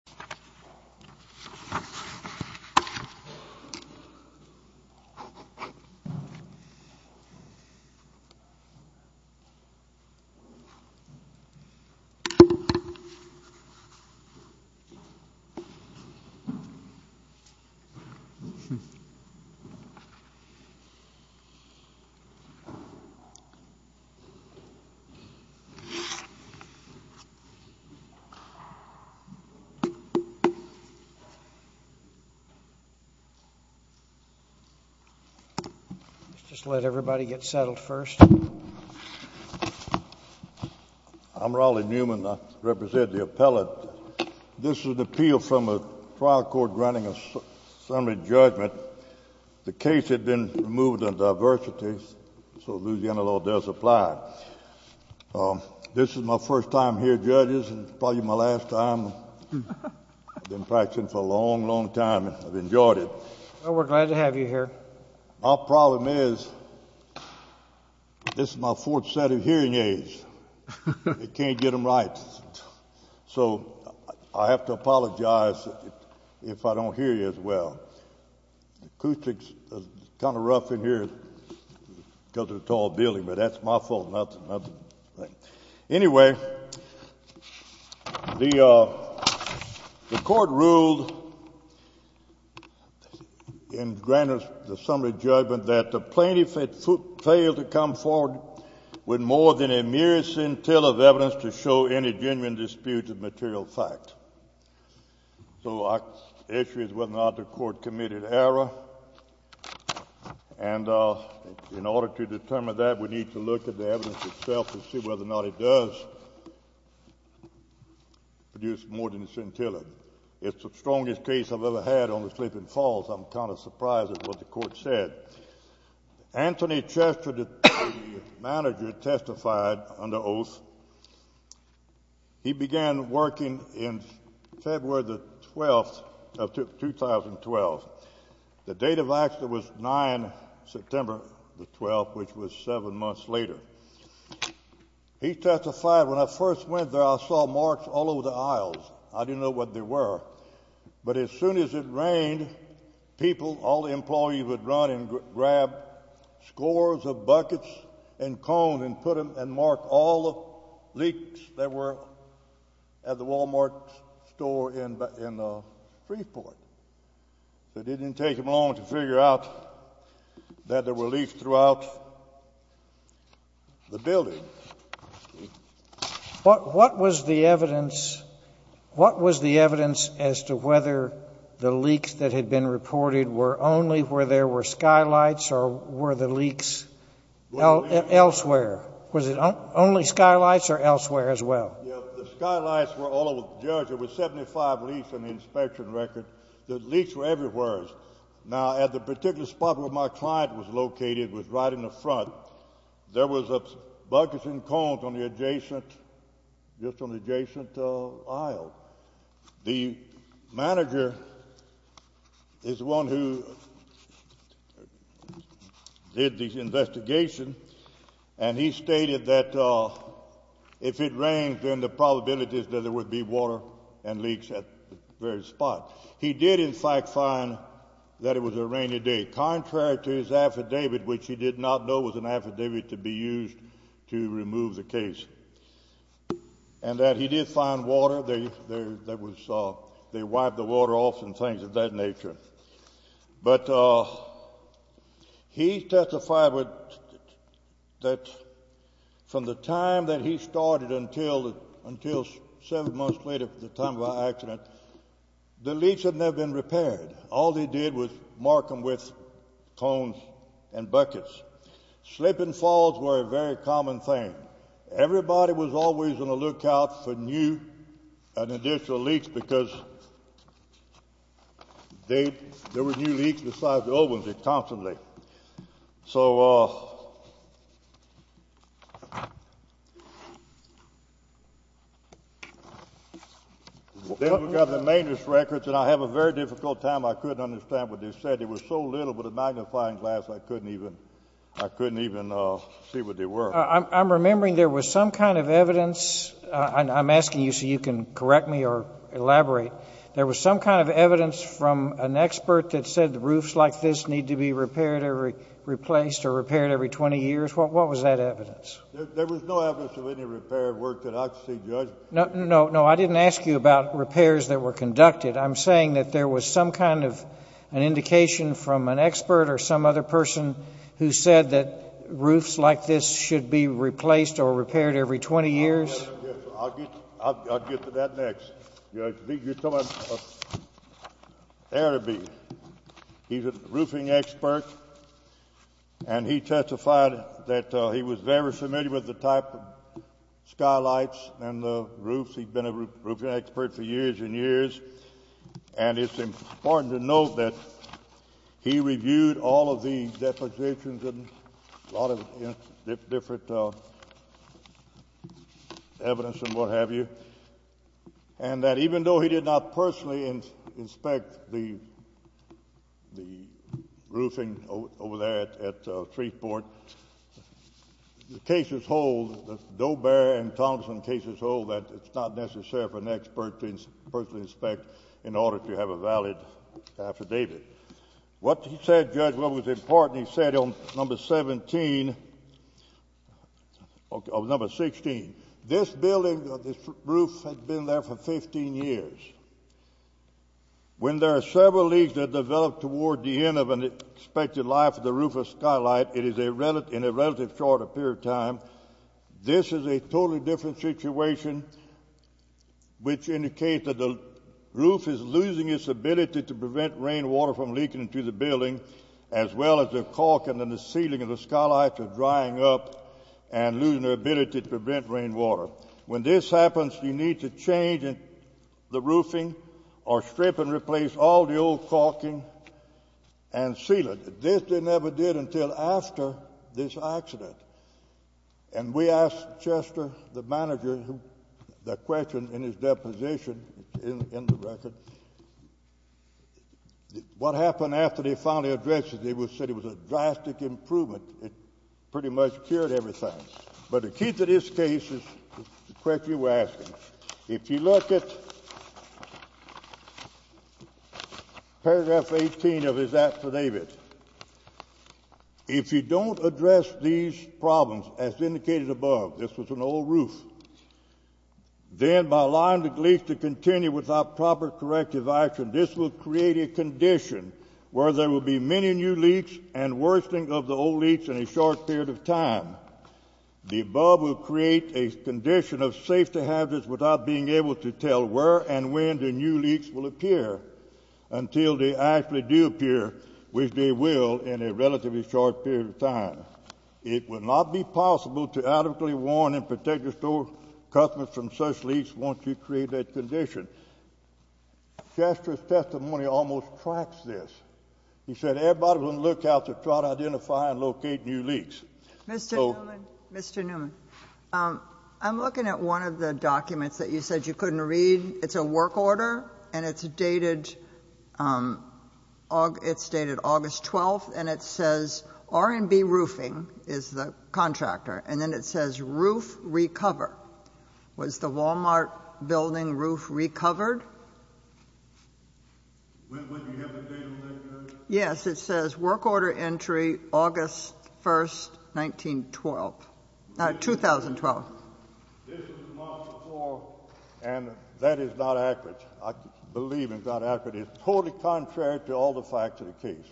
Wal-Mart Stores, Incorporated For a minute, Äôll call everyone in. I represent the appellate. This is an appeal from the trial court granting a summary judgment. The case had been moved to the jury. This is my first time here, judges. Probably my last time. IÄôve been practicing for a long, long time. IÄôve enjoyed it. Well, weÄôre glad to have you here. My problem is this is my fourth set of hearing aids. I canÄôt get them right. So I have to apologize if I donÄôt hear you as well. The acoustics is kind of rough in here because of the tall building, but thatÄôs my fault. Anyway, the court ruled and granted the summary judgment that the plaintiff had failed to come forward with more than a mere scintilla of evidence to material fact. So the issue is whether or not the court committed error. And in order to determine that, we need to look at the evidence itself and see whether or not it does produce more than a scintilla. ItÄôs the strongest case IÄôve ever had on the Sleeping Falls. IÄôm kind of surprised at what the court said. Anthony Chester, the manager, testified under oath. He began working in February the 12th of 2012. The date of accident was 9 September the 12th, which was seven months later. He testified, ìWhen I first went there I saw marks all over the aisles. I didnÄôt know what they were. But as soon as it rained, people, all the employees would run and grab scores of buckets and cones and put them and mark all the leaks that were at the Wal-Mart store in Freeport. It didnÄôt take them long to figure out that there were leaks throughout the building. What was the evidence as to whether the leaks that had been reported were only where there were skylights or were the leaks elsewhere? The skylights were all over the general store. The skylights were all over the general store. There were 75 leaks in the inspection record. The leaks were everywheres. Now at the particular spot where my client was located was right in the front. There was buckets and cones on the adjacent aisle. The manager is the one who did If it didnÄôt rain then the probability that there would be water would be very high. He did in fact find that it was a rainy day. Contrary to his affidavit which he did not know was an affidavit to be used to remove the case. And that he did find water. They wiped the water off and things of that nature. water. He did not find any leaks. He did not find any leaks. He did not find any leaks. He did not find any leaks. At the time of the accident the leaks had not been repaired. All they did was mark them with Cones and buckets. Slip and falls were a very common thing. Everybody was always on a look out for new and additional leaks because there were new leaks besides the old ones. Constantly. So, uh, They've got the maintenance records and I have a very difficult time. I couldn't understand what they said. It was so little with a magnifying glass I couldn't even, I couldn't even see what they were. I'm remembering there was some kind of evidence. I'm asking you so you can correct me or elaborate. There was some kind of evidence from an expert that said the roofs like this need to be repaired or replaced or repaired every 20 years. What was that evidence? There was no evidence of any repair work that I could see judge. No, no, no. I didn't ask you about repairs that were conducted. I'm saying that there was some kind of an indication from an expert or some other person who said that roofs like this should be replaced or repaired every 20 years. I'll get, I'll get to that next. You're telling me there to be. He's a roofing expert. And he testified that he was very familiar with the type of skylights and the roofs. He's been a roofing expert for years and years. And it's important to note that he reviewed all of the depositions and a lot of different evidence and what have you. And that even though he did not personally inspect the, the building over there at Threeport, the cases hold, the Doe-Bear and Thompson cases hold that it's not necessary for an expert to personally inspect in order to have a valid affidavit. What he said, judge, what was important, he said on number 17, or number 16, this building or this roof had been there for 15 years. When there are several leagues that develop toward the end of the expected life of the roof of skylight, it is in a relative short period of time. This is a totally different situation which indicates that the roof is losing its ability to prevent rainwater from leaking into the building as well as the caulking and the ceiling of the skylights are drying up and losing their ability to prevent rainwater. When this happens, you need to change the roofing or strip and replace all the old caulking and ceiling. This they never did until after this accident. And we asked Chester, the manager, the question in his deposition in the record, what happened after they finally addressed it. They said it was a drastic improvement. It pretty much cured everything. But the key to this case is the question we're asking. If you look at paragraph 18 of the statute, what is that for David? If you don't address these problems as indicated above, this was an old roof, then by allowing the leaks to continue without proper corrective action, this will create a condition where there will be many new leaks and worsening of the old leaks in a short period of time. The above will create a condition of safety hazards without being able to tell where and when the new leaks will appear, which they will in a relatively short period of time. It will not be possible to adequately warn and protect the store customers from such leaks once you create that condition. Chester's testimony almost tracks this. He said everybody will look out to try to identify and locate new leaks. Mr. Newman, I'm looking at one of the documents that you said you couldn't read. It's a work order, and it's dated August 12th, and it says r&b roofing is the contractor, and then it says roof recover. Was the Wal-Mart building roof recovered? Yes, it says work order entry August 1st, 1912. 2012. This is March 4th, and that is This is March 4th. This is March 4th. This is March 4th. This is March 4th. This is March 4th. This is March 4th.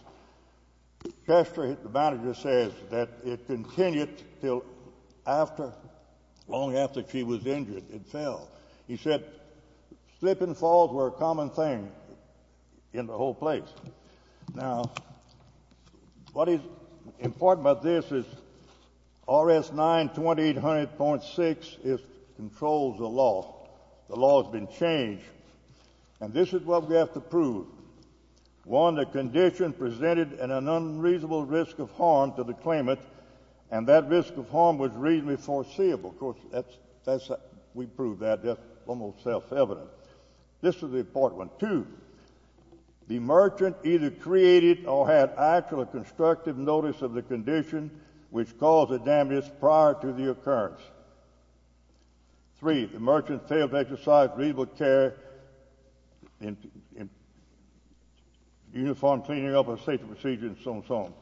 Chester says in relation to the case. The manager says that it continued till long after she was injured. It fell. He said slip and falls were common thing in the whole place. Now, what is important about this is, RS 92800.6 controls the law. The law has been changed. And this is what we have to prove. One, the condition presented an unreasonable risk of harm to the claimant. And that risk of harm was reasonably foreseeable. Of course, we prove that. That's almost self-evident. This is the important one. Two, the merchant either created or had actual constructive notice of the condition which caused the damage prior to the occurrence. Three, the merchant failed to carry uniformed cleaning of a safety procedure and so on and so on.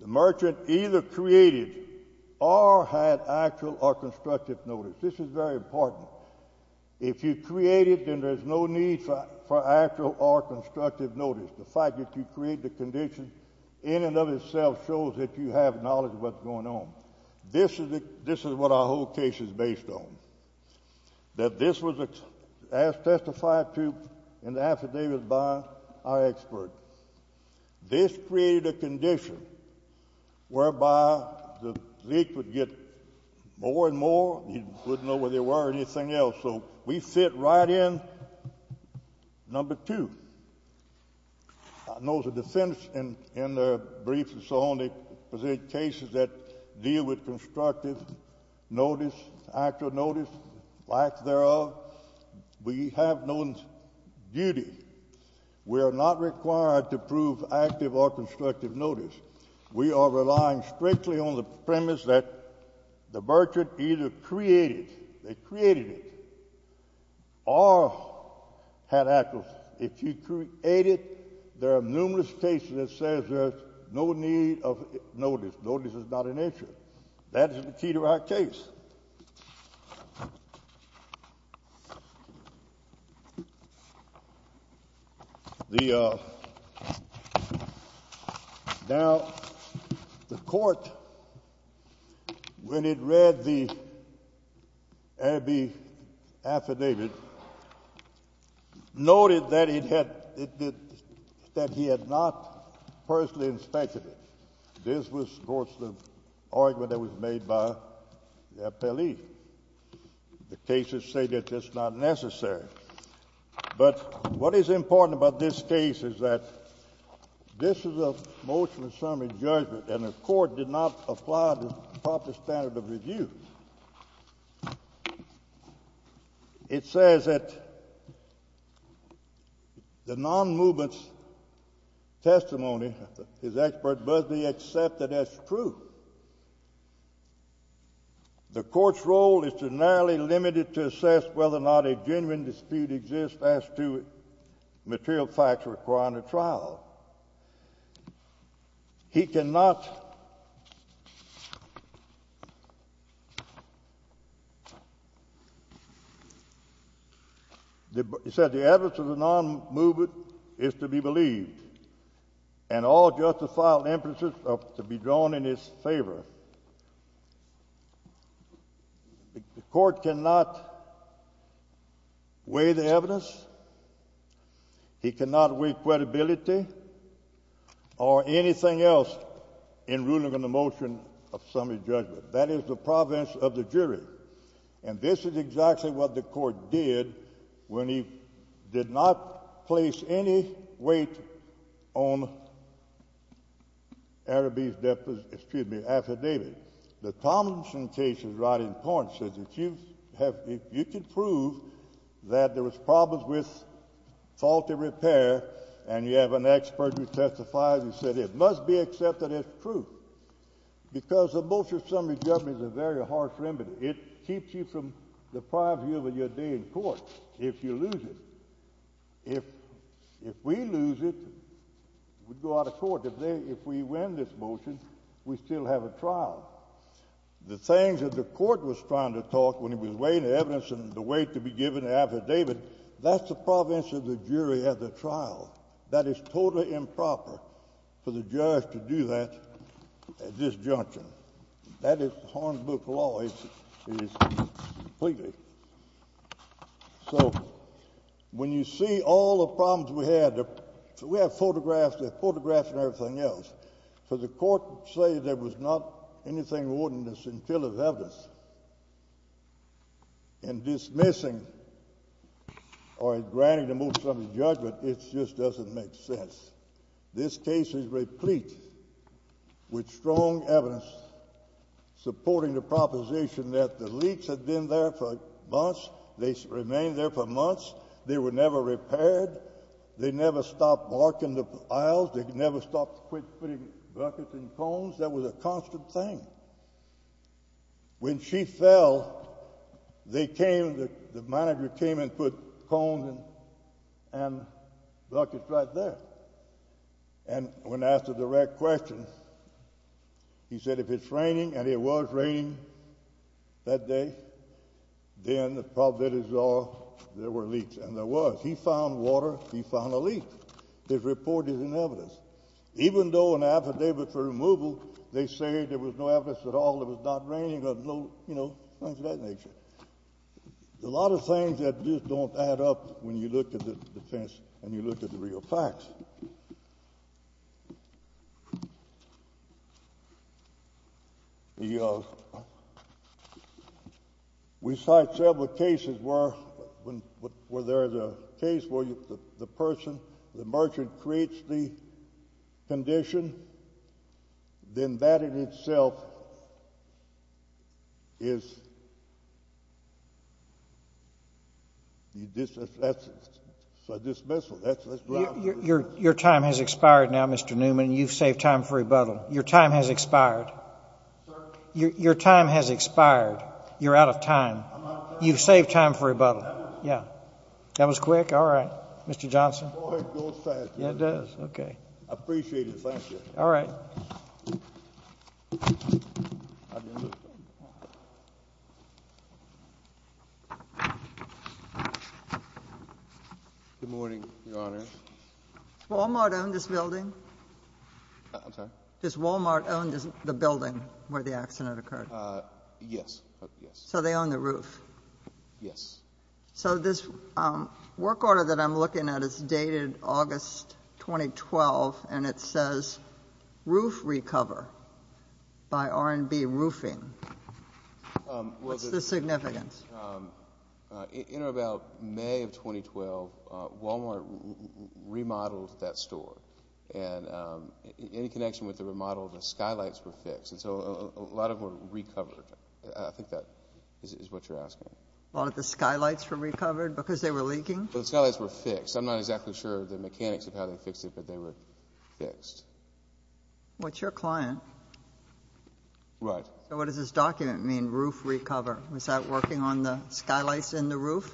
The merchant either created or had actual or constructive notice. This is very important. If you created, then there's no need for actual or constructive notice. The fact that you created the condition in and of itself shows that you have knowledge of what is going on. This is what our whole case is based on. This was testified to in the affidavit by our expert. This created a condition whereby the leak would get more and more and you wouldn't know where they were or anything else. So we fit right in. Number two, I know the defendants in the briefs and so on, they presented cases that deal with constructive notice, actual notice, lack thereof. We have no duty. We are not required to prove active or constructive notice. We are relying strictly on the premise that the merchant either created it or had actual. If you created, there are numerous cases that says there is no need of notice. Notice is not an issue. That is the key to our case. Now, the court, when it read the affidavit, noted that he had not personally inspected it. This was, of course, the argument that was made by the appellee. The cases say that it's not necessary. But what is important about this case is that this is a motion and summary judgment and the court did not apply the proper standard of review. It says that the non-movement testimony, his expert Busby accepted as true. The court's role is to narrowly limit it to assess whether or not a genuine dispute exists as to material facts requiring a trial. He cannot, he said, the evidence of the non-movement is to be believed. And all justified inferences are to be drawn in his favor. The court cannot weigh the evidence, he cannot weigh credibility or anything else in ruling on the motion of summary judgment. That is the province of the jury. And this is exactly what the court did. The court did not place any weight on Araby's affidavit. The Thompson case is right in point. You can prove that there was problems with faulty repair and you have an expert who testified who said it must be accepted as true. Because the motion of summary judgment is a very harsh remedy. It keeps you from the prior view of your day in court if you lose it. If we lose it, we go out of court. If we win this motion, we still have a trial. The things that the court was trying to talk when it was weighing the evidence and the weight to be given in the affidavit, that's the province of the jury at the trial. That is totally improper for the judge to do that at this junction. That is harmful to law. Completely. So when you see all the problems we had, we have photographs and everything else. But the court said there was not anything more than this in the field of evidence. And dismissing or granting the motion of the judgment, it just doesn't make sense. This case is replete with strong evidence supporting the proposition that the leaks had been there for months. They remained there for months. They were never repaired. They never stopped marking the aisles. They never stopped putting buckets and cones. That was a constant thing. When she fell, they came, the manager came and put cones and buckets right there. And when asked a direct question, he said if it's raining, and it was raining that day, then the probabilities are there were leaks. And there was. He found water. He found a leak. His report is in evidence. Even though an affidavit for removal, they say there was no evidence at all. It was not raining or, you know, things of that nature. A lot of things that just don't add up when you look at the defense and you look at the real facts. We cite several cases where there's a case where the person, the merchant creates the condition. Then that in itself is a dismissal. It's more of a dismissal. Let's go back. Let's go back. Your time has expired now, Mr. Newman. You saved time for rebuttal. Your time has expired. Your time has expired. You're out of time. You saved time for rebuttal. Yeah. That was quick, all right. Mr. Johnson. It does. Okay. I appreciate it. All right. Good morning, Your Honor. Does Walmart own this building? I'm sorry? Does Walmart own the building where the accident occurred? Yes. So they own the roof. Yes. So this work order that I'm looking at is dated August 2012, and it says roof recover by R&B roofing. What's the significance? In or about May of 2012, Walmart remodeled that store. And in connection with the remodel, the skylights were fixed. And so a lot of them were recovered. I think that is what you're asking. A lot of the skylights were recovered because they were leaking? The skylights were fixed. I'm not exactly sure of the mechanics of how they fixed it, but they were fixed. Well, it's your client. Right. So what does this document mean, roof recover? Is that working on the skylights in the roof?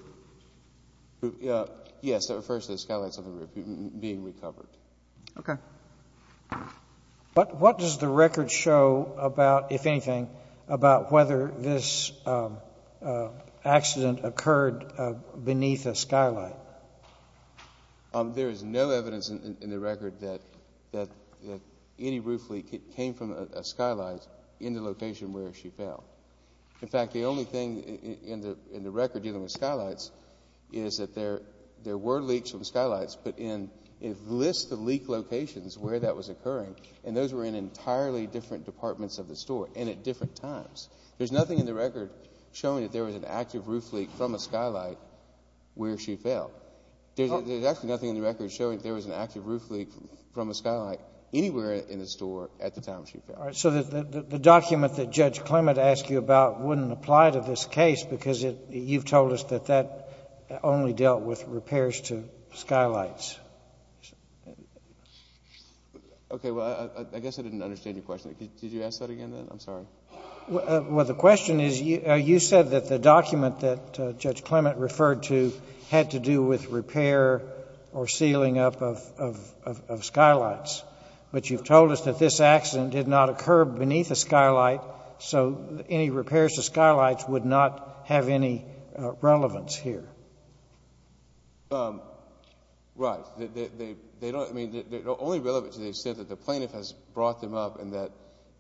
Yes. It refers to the skylights on the roof being recovered. Okay. What does the record show about, if anything, about whether this accident occurred beneath a skylight? There is no evidence in the record that any roof leak came from a skylight in the location where she fell. In fact, the only thing in the record dealing with skylights is that there were leaks from skylights, but it lists the leak locations where that was occurring, and those were in entirely different departments of the store, and at different times. There's nothing in the record showing that there was an active roof leak from a skylight where she fell. There's actually nothing in the record showing there was an active roof leak from a skylight anywhere in the store at the time she fell. All right. So the document that Judge Clement asked you about wouldn't apply to this case because you've told us that that only dealt with repairs to skylights. Okay. Well, I guess I didn't understand your question. Did you ask that again then? I'm sorry. Well, the question is you said that the document that Judge Clement referred to had to do with repair or sealing up of skylights, but you've told us that this accident did not occur beneath a skylight, so any repairs to skylights would not have any relevance here. Right. Only relevant to the extent that the plaintiff has brought them up and that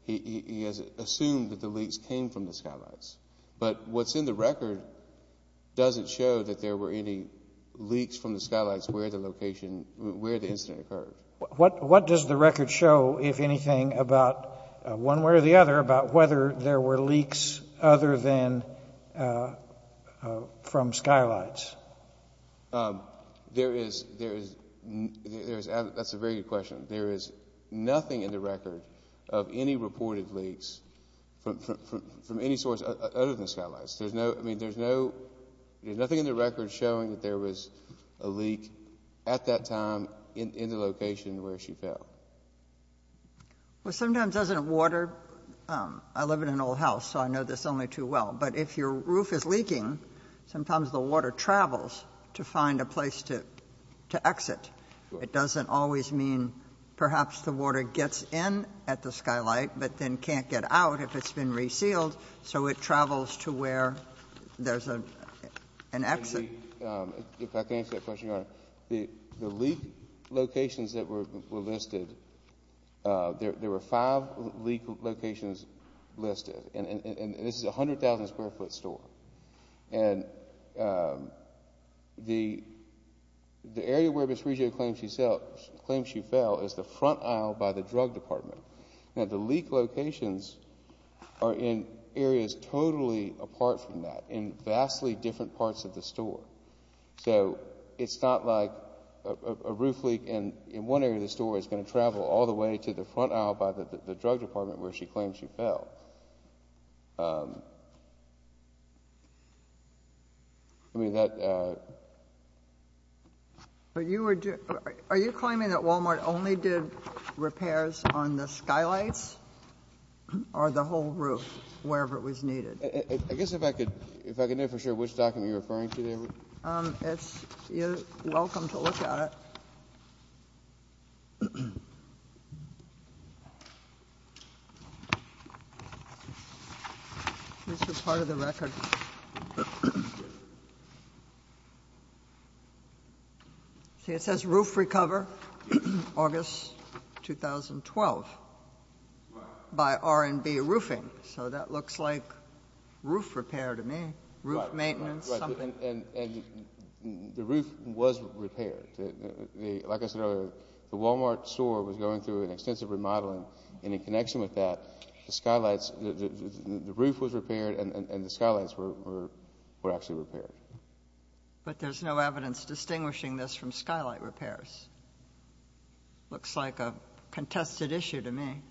he has assumed that the leaks came from the skylights. But what's in the record doesn't show that there were any leaks from the skylights where the incident occurred. What does the record show, if anything, about one way or the other, about whether there were leaks other than from skylights? That's a very good question. There is nothing in the record of any reported leaks from any source other than skylights. I mean, there's nothing in the record showing that there was a leak at that time in the location where she fell. Well, sometimes doesn't water. I live in an old house, so I know this only too well. But if your roof is leaking, sometimes the water travels to find a place to exit. It doesn't always mean perhaps the water gets in at the skylight, but then can't get out if it's been resealed, so it travels to where there's an exit. If I can answer that question, Your Honor, the leak locations that were listed, there were five leak locations listed, and this is a 100,000-square-foot store. The area where Ms. Reggio claims she fell is the front aisle by the drug department. Now, the leak locations are in areas totally apart from that, in vastly different parts of the store. So it's not like a roof leak in one area of the store is going to travel all the way to the front aisle by the drug department where she claims she fell. I mean, that ---- Are you claiming that Walmart only did repairs on the skylights or the whole roof, wherever it was needed? I guess if I could know for sure which document you're referring to there. You're welcome to look at it. This is part of the record. See, it says roof recover, August 2012, by R&B Roofing. So that looks like roof repair to me, roof maintenance. And the roof was repaired. Like I said earlier, the Walmart store was going through an extensive remodeling, and in connection with that, the roof was repaired and the skylights were actually repaired. But there's no evidence distinguishing this from skylight repairs. Looks like a contested issue to me.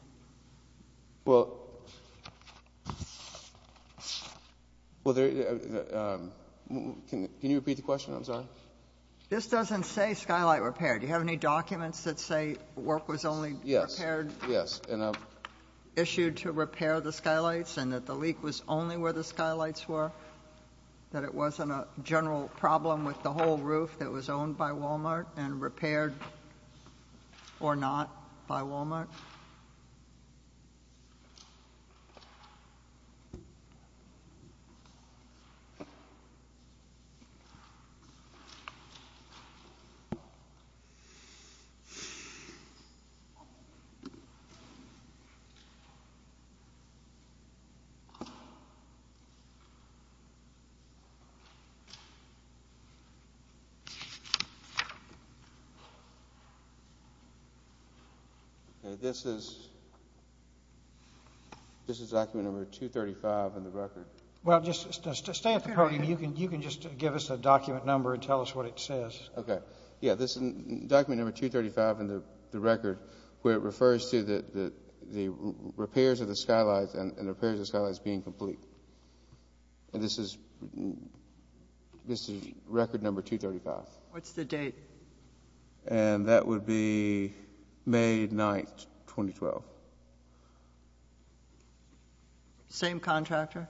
Well, can you repeat the question? I'm sorry. This doesn't say skylight repair. Do you have any documents that say work was only repaired, issued to repair the skylights and that the leak was only where the skylights were, that it wasn't a general problem with the whole roof that was owned by Walmart and Okay. This is document number 235 in the record. Well, just stay at the podium. You can just give us a document number and tell us what it says. Okay. Yeah, this is document number 235 in the record where it refers to the repairs of the skylights and repairs of the skylights being complete. And this is record number 235. What's the date? And that would be May 9, 2012. Same contractor?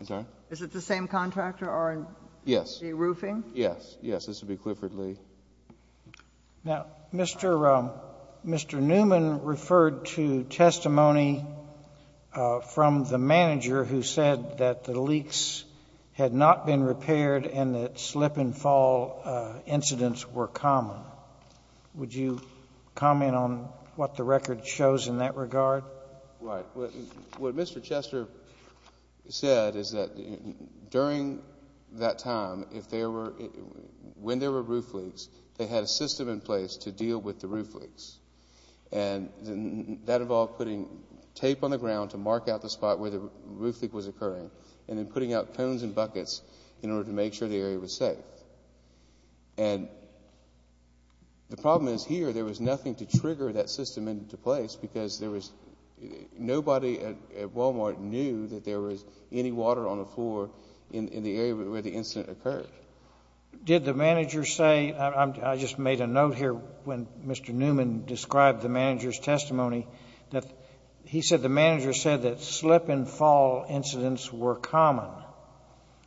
I'm sorry? Is it the same contractor or the roofing? Yes. Yes, this would be Clifford Lee. Now, Mr. Newman referred to testimony from the manager who said that the June and fall incidents were common. Would you comment on what the record shows in that regard? Right. What Mr. Chester said is that during that time, when there were roof leaks, they had a system in place to deal with the roof leaks. And that involved putting tape on the ground to mark out the spot where the roof leak was occurring and then putting out cones and buckets in order to make sure the area was safe. And the problem is here, there was nothing to trigger that system into place because nobody at Walmart knew that there was any water on the floor in the area where the incident occurred. Did the manager say, I just made a note here when Mr. Newman described the manager's testimony, that he said the manager said that slip and fall incidents were common.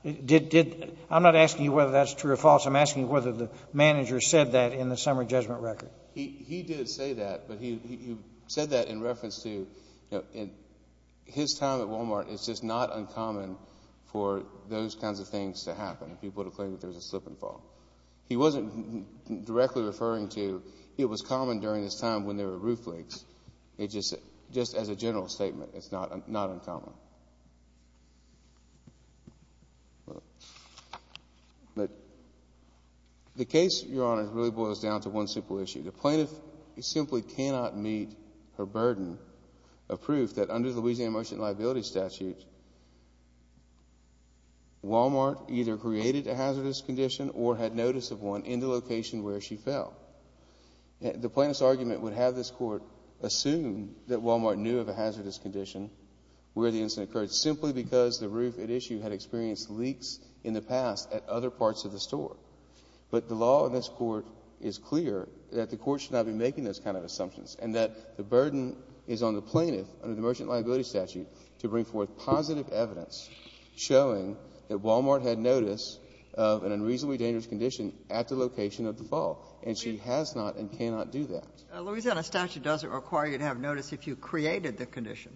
I'm not asking you whether that's true or false. I'm asking you whether the manager said that in the summer judgment record. He did say that, but he said that in reference to his time at Walmart, it's just not uncommon for those kinds of things to happen, people to claim that there's a slip and fall. He wasn't directly referring to it was common during this time when there were roof leaks. Just as a general statement, it's not uncommon. The case, Your Honor, really boils down to one simple issue. The plaintiff simply cannot meet her burden of proof that under the Louisiana Motion of Liability statute, Walmart either created a hazardous condition or had notice of one in the location where she fell. The plaintiff's argument would have this court assume that Walmart knew of a hazardous condition where the incident occurred simply because the roof at issue had experienced leaks in the past at other parts of the store. But the law in this court is clear that the court should not be making those kinds of assumptions and that the burden is on the plaintiff under the Motion of Liability statute to bring forth positive evidence showing that Walmart had notice of an unreasonably dangerous condition at the location of the slip and fall, and she has not and cannot do that. Louisiana statute doesn't require you to have notice if you created the condition.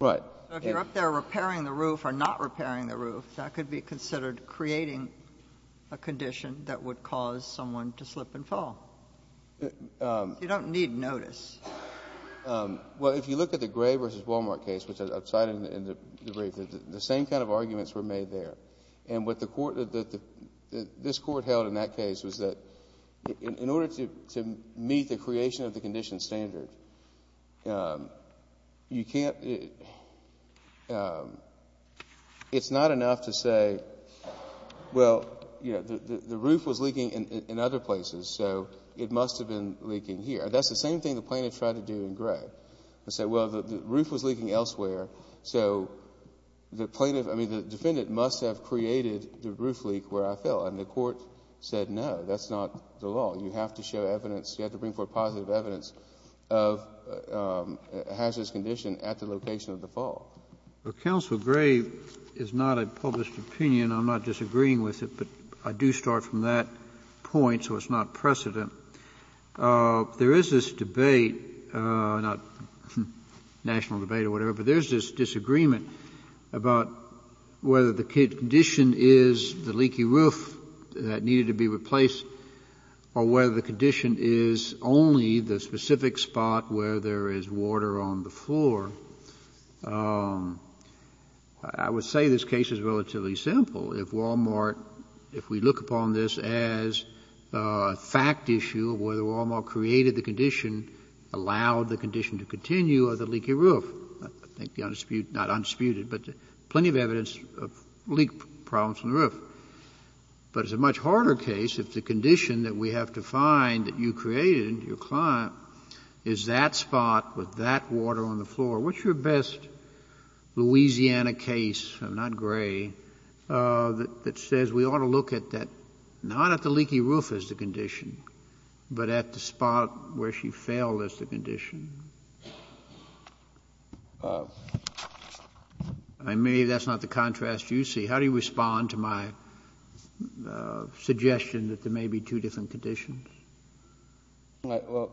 Right. If you're up there repairing the roof or not repairing the roof, that could be considered creating a condition that would cause someone to slip and fall. You don't need notice. Well, if you look at the Gray v. Walmart case, which I cited in the brief, the same kind of arguments were made there. And what this court held in that case was that in order to meet the creation of the condition standard, it's not enough to say, well, the roof was leaking in other places, so it must have been leaking here. That's the same thing the plaintiff tried to do in Gray. They said, well, the roof was leaking elsewhere, so the defendant must have created the roof leak where I fell. And the court said, no, that's not the law. You have to show evidence, you have to bring forth positive evidence of a hazardous condition at the location of the fall. Well, Counselor Gray is not a published opinion. I'm not disagreeing with it, but I do start from that point, so it's not precedent. There is this debate, not national debate or whatever, but there's this debate whether the condition is the leaky roof that needed to be replaced or whether the condition is only the specific spot where there is water on the floor. I would say this case is relatively simple. If Walmart, if we look upon this as a fact issue, whether Walmart created the condition, allowed the condition to continue or the leaky roof, I think the undisputed but plenty of evidence of leak problems on the roof. But it's a much harder case if the condition that we have to find that you created in your client is that spot with that water on the floor. What's your best Louisiana case, not Gray, that says we ought to look at that, not at the leaky roof as the condition, but at the spot where she fell as the condition? I may, that's not the contrast you see. How do you respond to my suggestion that there may be two different conditions? Well,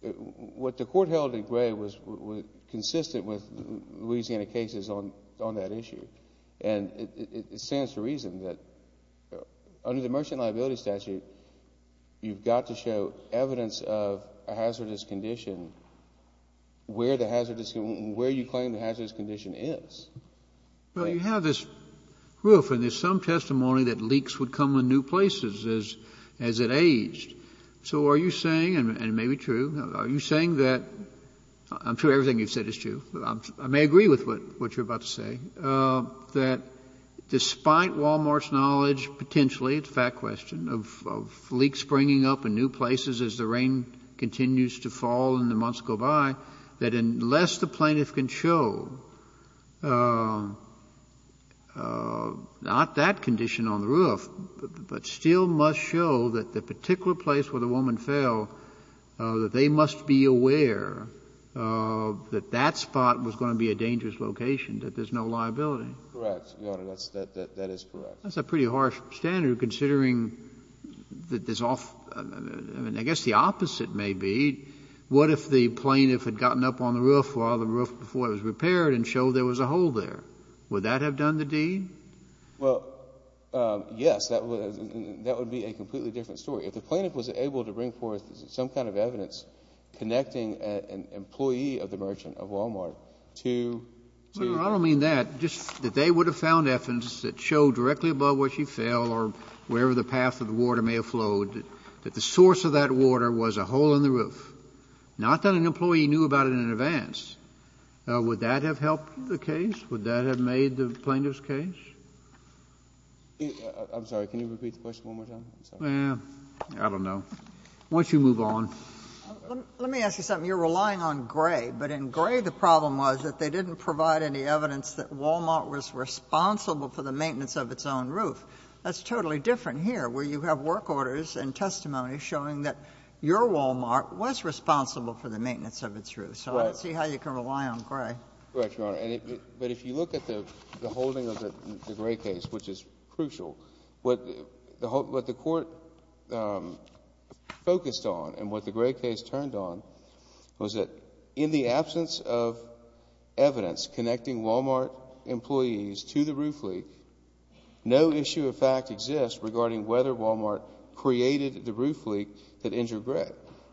what the court held in Gray was consistent with Louisiana cases on that issue. And it stands to reason that under the Merchant Liability Statute, you've got to show evidence of a hazardous condition where you claim the hazardous condition is. Well, you have this roof and there's some testimony that leaks would come in new places as it aged. So are you saying, and it may be true, are you saying that, I'm sure everything you've said is true, I may agree with what you're about to say, that despite Walmart's knowledge, potentially, it's a fact question, of leaks springing up in new places as the rain continues to fall and the months go by, that unless the plaintiff can show not that condition on the roof, but still must show that the particular place where the woman fell, that they must be aware that that spot was going to be a dangerous location, that there's no liability? Correct, Your Honor, that is correct. That's a pretty harsh standard considering that there's, I guess the opposite may be. What if the plaintiff had gotten up on the roof while the roof was repaired and showed there was a hole there? Would that have done the deed? Well, yes, that would be a completely different story. If the plaintiff was able to bring forth some kind of evidence connecting an employee of the merchant of Walmart to Well, I don't mean that, just that they would have found evidence that showed directly above where she fell or wherever the path of the water may have flowed, that the source of that water was a hole in the roof. Not that an employee knew about it in advance. Would that have helped the case? Would that have made the plaintiff's case? I'm sorry, can you repeat the question one more time? I don't know. Why don't you move on? Let me ask you something. You're relying on Gray, but in Gray the problem was that they didn't provide any evidence that Walmart was responsible for the maintenance of its own roof. That's totally different here where you have work orders and testimony showing that your Walmart was responsible for the maintenance of its roof. So I don't see how you can rely on Gray. Correct, Your Honor. But if you look at the holding of the Gray case, which is crucial, what the court focused on and what the Gray case turned on was that in the absence of evidence connecting Walmart employees to the roof leak, no issue of fact exists regarding whether Walmart created the roof leak that injured Gray.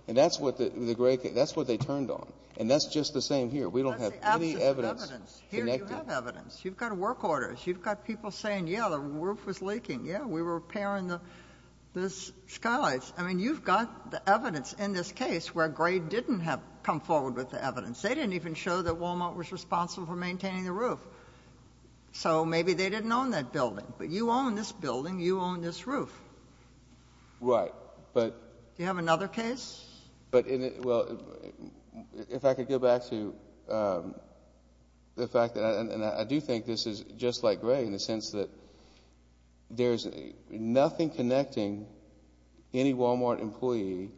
And that's what they turned on. And that's just the same here. We don't have any evidence. That's the absence of evidence. Here you have evidence. You've got work orders. You've got people saying, yeah, the roof was leaking. Yeah, we were repairing the skylights. I mean, you've got the evidence in this case where Gray didn't have come forward with the evidence. They didn't even show that Walmart was responsible for maintaining the roof. So maybe they didn't own that building. But you own this building. You own this roof. Right. Do you have another case? Well, if I could go back to the fact that I do think this is just like Gray in the sense that there's nothing connecting any Walmart employee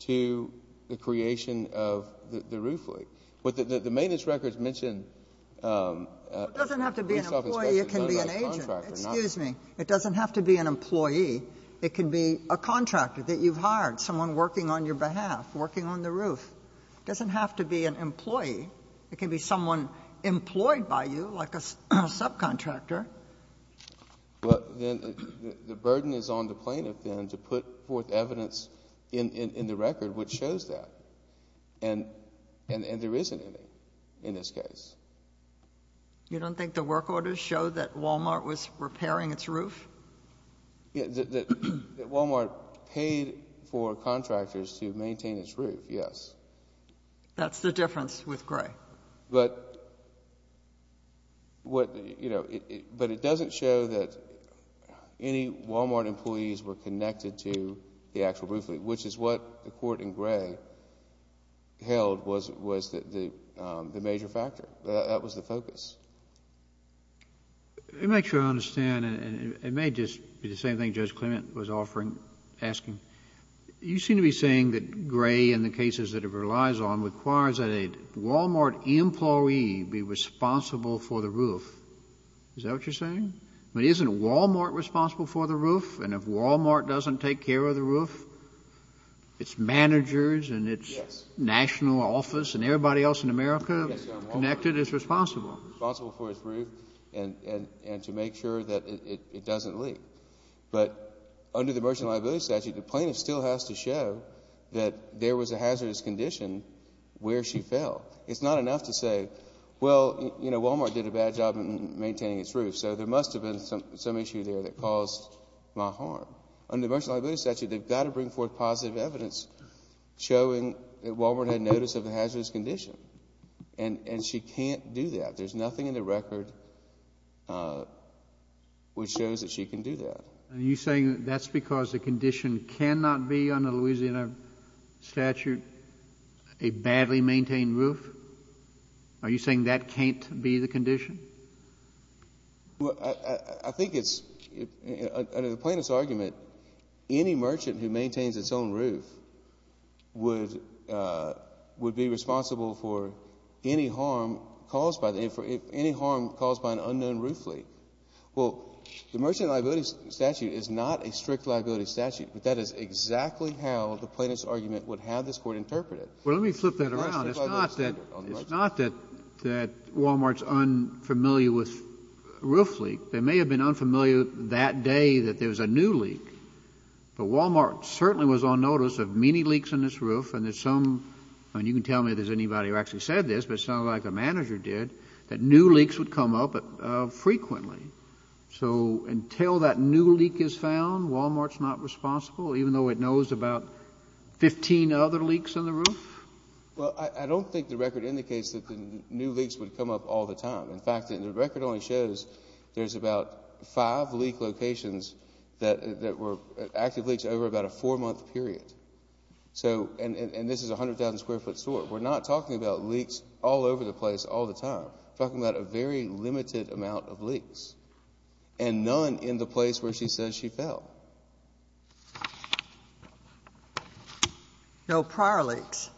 to the creation of the roof leak. But the maintenance records mention. It doesn't have to be an employee. It can be an agent. It doesn't have to be an employee. It can be a contractor that you've hired, someone working on your behalf, working on the roof. It doesn't have to be an employee. It can be someone employed by you, like a subcontractor. Well, then the burden is on the plaintiff then to put forth evidence in the record which shows that. And there isn't any in this case. You don't think the work orders show that Walmart was repairing its roof? That Walmart paid for contractors to maintain its roof, yes. That's the difference with Gray. But it doesn't show that any Walmart employees were connected to the actual roof leak, which is what the court in Gray held was the major factor. That was the focus. Let me make sure I understand. It may just be the same thing Judge Clement was offering, asking. You seem to be saying that Gray, in the cases that it relies on, requires that a Walmart employee be responsible for the roof. Is that what you're saying? But isn't Walmart responsible for the roof? And if Walmart doesn't take care of the roof, its managers and its national office and everybody else in America connected is responsible. Responsible for its roof and to make sure that it doesn't leak. But under the Merchant Liability Statute, the plaintiff still has to show that there was a hazardous condition where she fell. It's not enough to say, well, you know, Walmart did a bad job in maintaining its roof, so there must have been some issue there that caused my harm. Under the Merchant Liability Statute, they've got to bring forth positive evidence showing that Walmart had notice of the hazardous condition. And she can't do that. There's nothing in the record which shows that she can do that. Are you saying that's because the condition cannot be, under the Louisiana statute, a badly maintained roof? Well, I think it's, under the plaintiff's argument, any merchant who maintains its own roof would be responsible for any harm caused by an unknown roof leak. Well, the Merchant Liability Statute is not a strict liability statute, but that is exactly how the plaintiff's argument would have this court interpret it. Well, let me flip that around. It's not that Walmart's unfamiliar with roof leaks. They may have been unfamiliar that day that there was a new leak, but Walmart certainly was on notice of many leaks in this roof, and there's some, and you can tell me if there's anybody who actually said this, but it sounded like the manager did, that new leaks would come up frequently. So until that new leak is found, Walmart's not responsible, even though it knows about 15 other leaks in the roof? Well, I don't think the record indicates that the new leaks would come up all the time. In fact, the record only shows there's about five leak locations that were active leaks over about a four-month period, and this is a 100,000-square-foot store. We're not talking about leaks all over the place all the time. We're talking about a very limited amount of leaks, and none in the place where she says she fell. No prior leaks,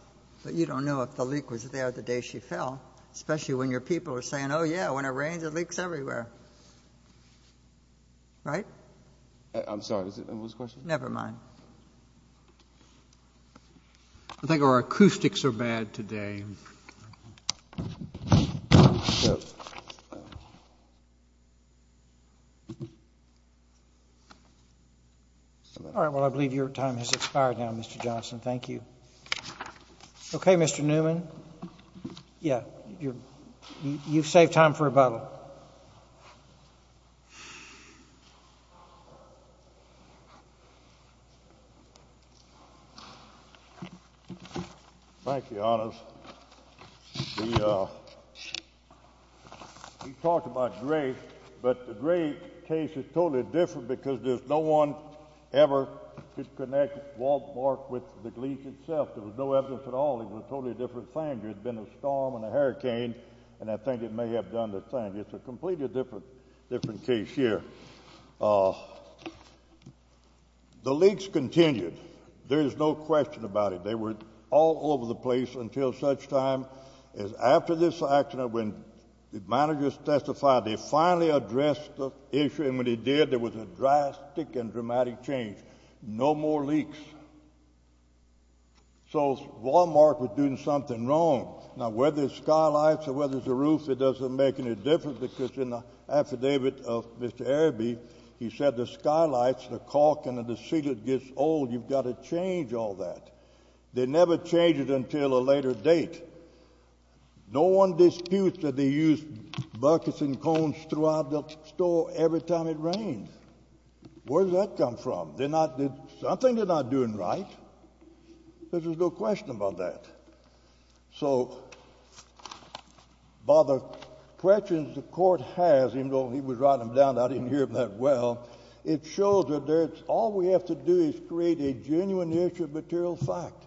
but you don't know if the leak was there the day she fell, especially when your people are saying, oh, yeah, when it rains, it leaks everywhere. Right? I'm sorry, what was the question? Never mind. I think our acoustics are bad today. Thank you. All right, well, I believe your time has expired now, Mr. Johnson. Thank you. Okay, Mr. Newman. Yeah, you've saved time for rebuttal. Thank you, Your Honors. We talked about Drake, but the Drake case is totally different because there's no one ever disconnected Walt Burke with the leak itself. There was no evidence at all. It was a totally different thing. There had been a storm and a hurricane, and I think it may have done the thing. But it's a completely different case here. The leaks continued. There is no question about it. They were all over the place until such time as after this accident, when the managers testified, they finally addressed the issue, and when they did, there was a drastic and dramatic change. No more leaks. So Wal-Mart was doing something wrong. Now, whether it's skylights or whether it's a roof, it doesn't make any difference because in the affidavit of Mr. Araby, he said the skylights, the caulk, and the sealant gets old. You've got to change all that. They never changed it until a later date. No one disputes that they used buckets and cones throughout the store every time it rained. Where did that come from? Something they're not doing right. There's no question about that. So by the questions the court has, even though he was writing them down, I didn't hear them that well, it shows that all we have to do is create a genuine issue of material fact.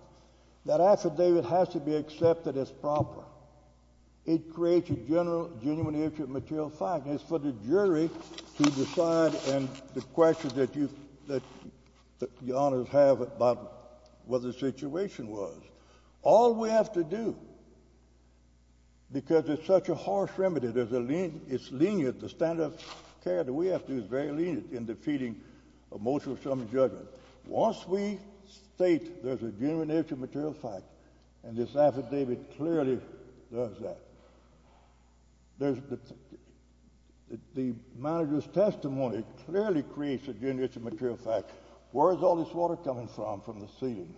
That affidavit has to be accepted as proper. It creates a genuine issue of material fact. It's for the jury to decide and the questions that the honors have about what the situation was. All we have to do, because it's such a harsh remedy, it's lenient, the standard of care that we have to do is very lenient in defeating a motion of some judgment. Once we state there's a genuine issue of material fact, and this affidavit clearly does that, the manager's testimony clearly creates a genuine issue of material fact. Where is all this water coming from, from the ceiling?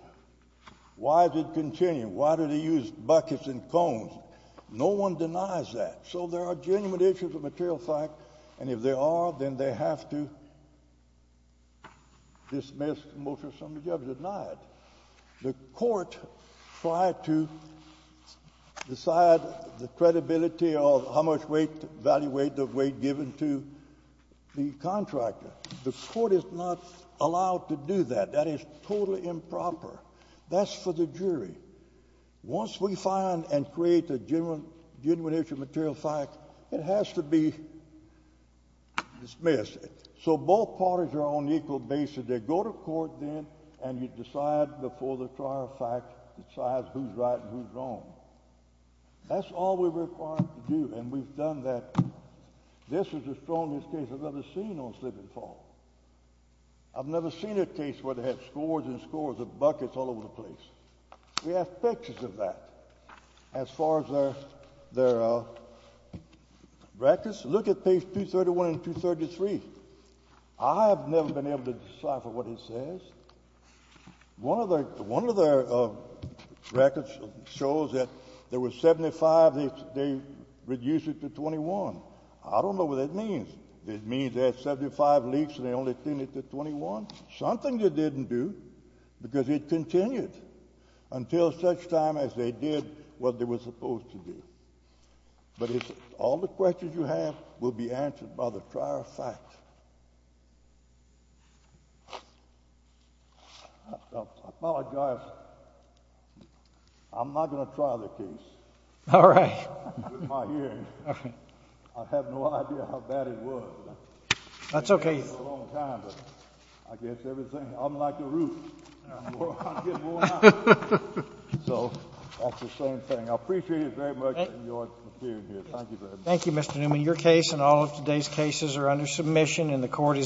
Why is it continuing? Why did he use buckets and cones? No one denies that. So there are genuine issues of material fact, and if there are, then they have to dismiss motion of some judgment. The court tried to decide the credibility of how much weight, value weight of weight given to the contractor. The court is not allowed to do that. That is totally improper. That's for the jury. Once we find and create a genuine issue of material fact, it has to be dismissed. So both parties are on equal basis. They go to court then, and you decide before the trial decides who's right and who's wrong. That's all we're required to do, and we've done that. This is the strongest case I've ever seen on Slip and Fall. I've never seen a case where they have scores and scores of buckets all over the place. We have pictures of that as far as their records. Look at page 231 and 233. I have never been able to decipher what it says. One of their records shows that there were 75. They reduced it to 21. I don't know what that means. It means they had 75 leaks, and they only tuned it to 21, something they didn't do because it continued until such time as they did what they were supposed to do. But all the questions you have will be answered by the trial of fact. I apologize. I'm not going to trial the case. All right. With my hearing. I have no idea how bad it was. That's okay. It's been a long time, but I guess everything... I'm like a root. I'm getting worn out. So that's the same thing. I appreciate it very much in your hearing here. Thank you very much. Thank you, Mr. Newman. Your case and all of today's cases are under submission, and the Court is adjourned.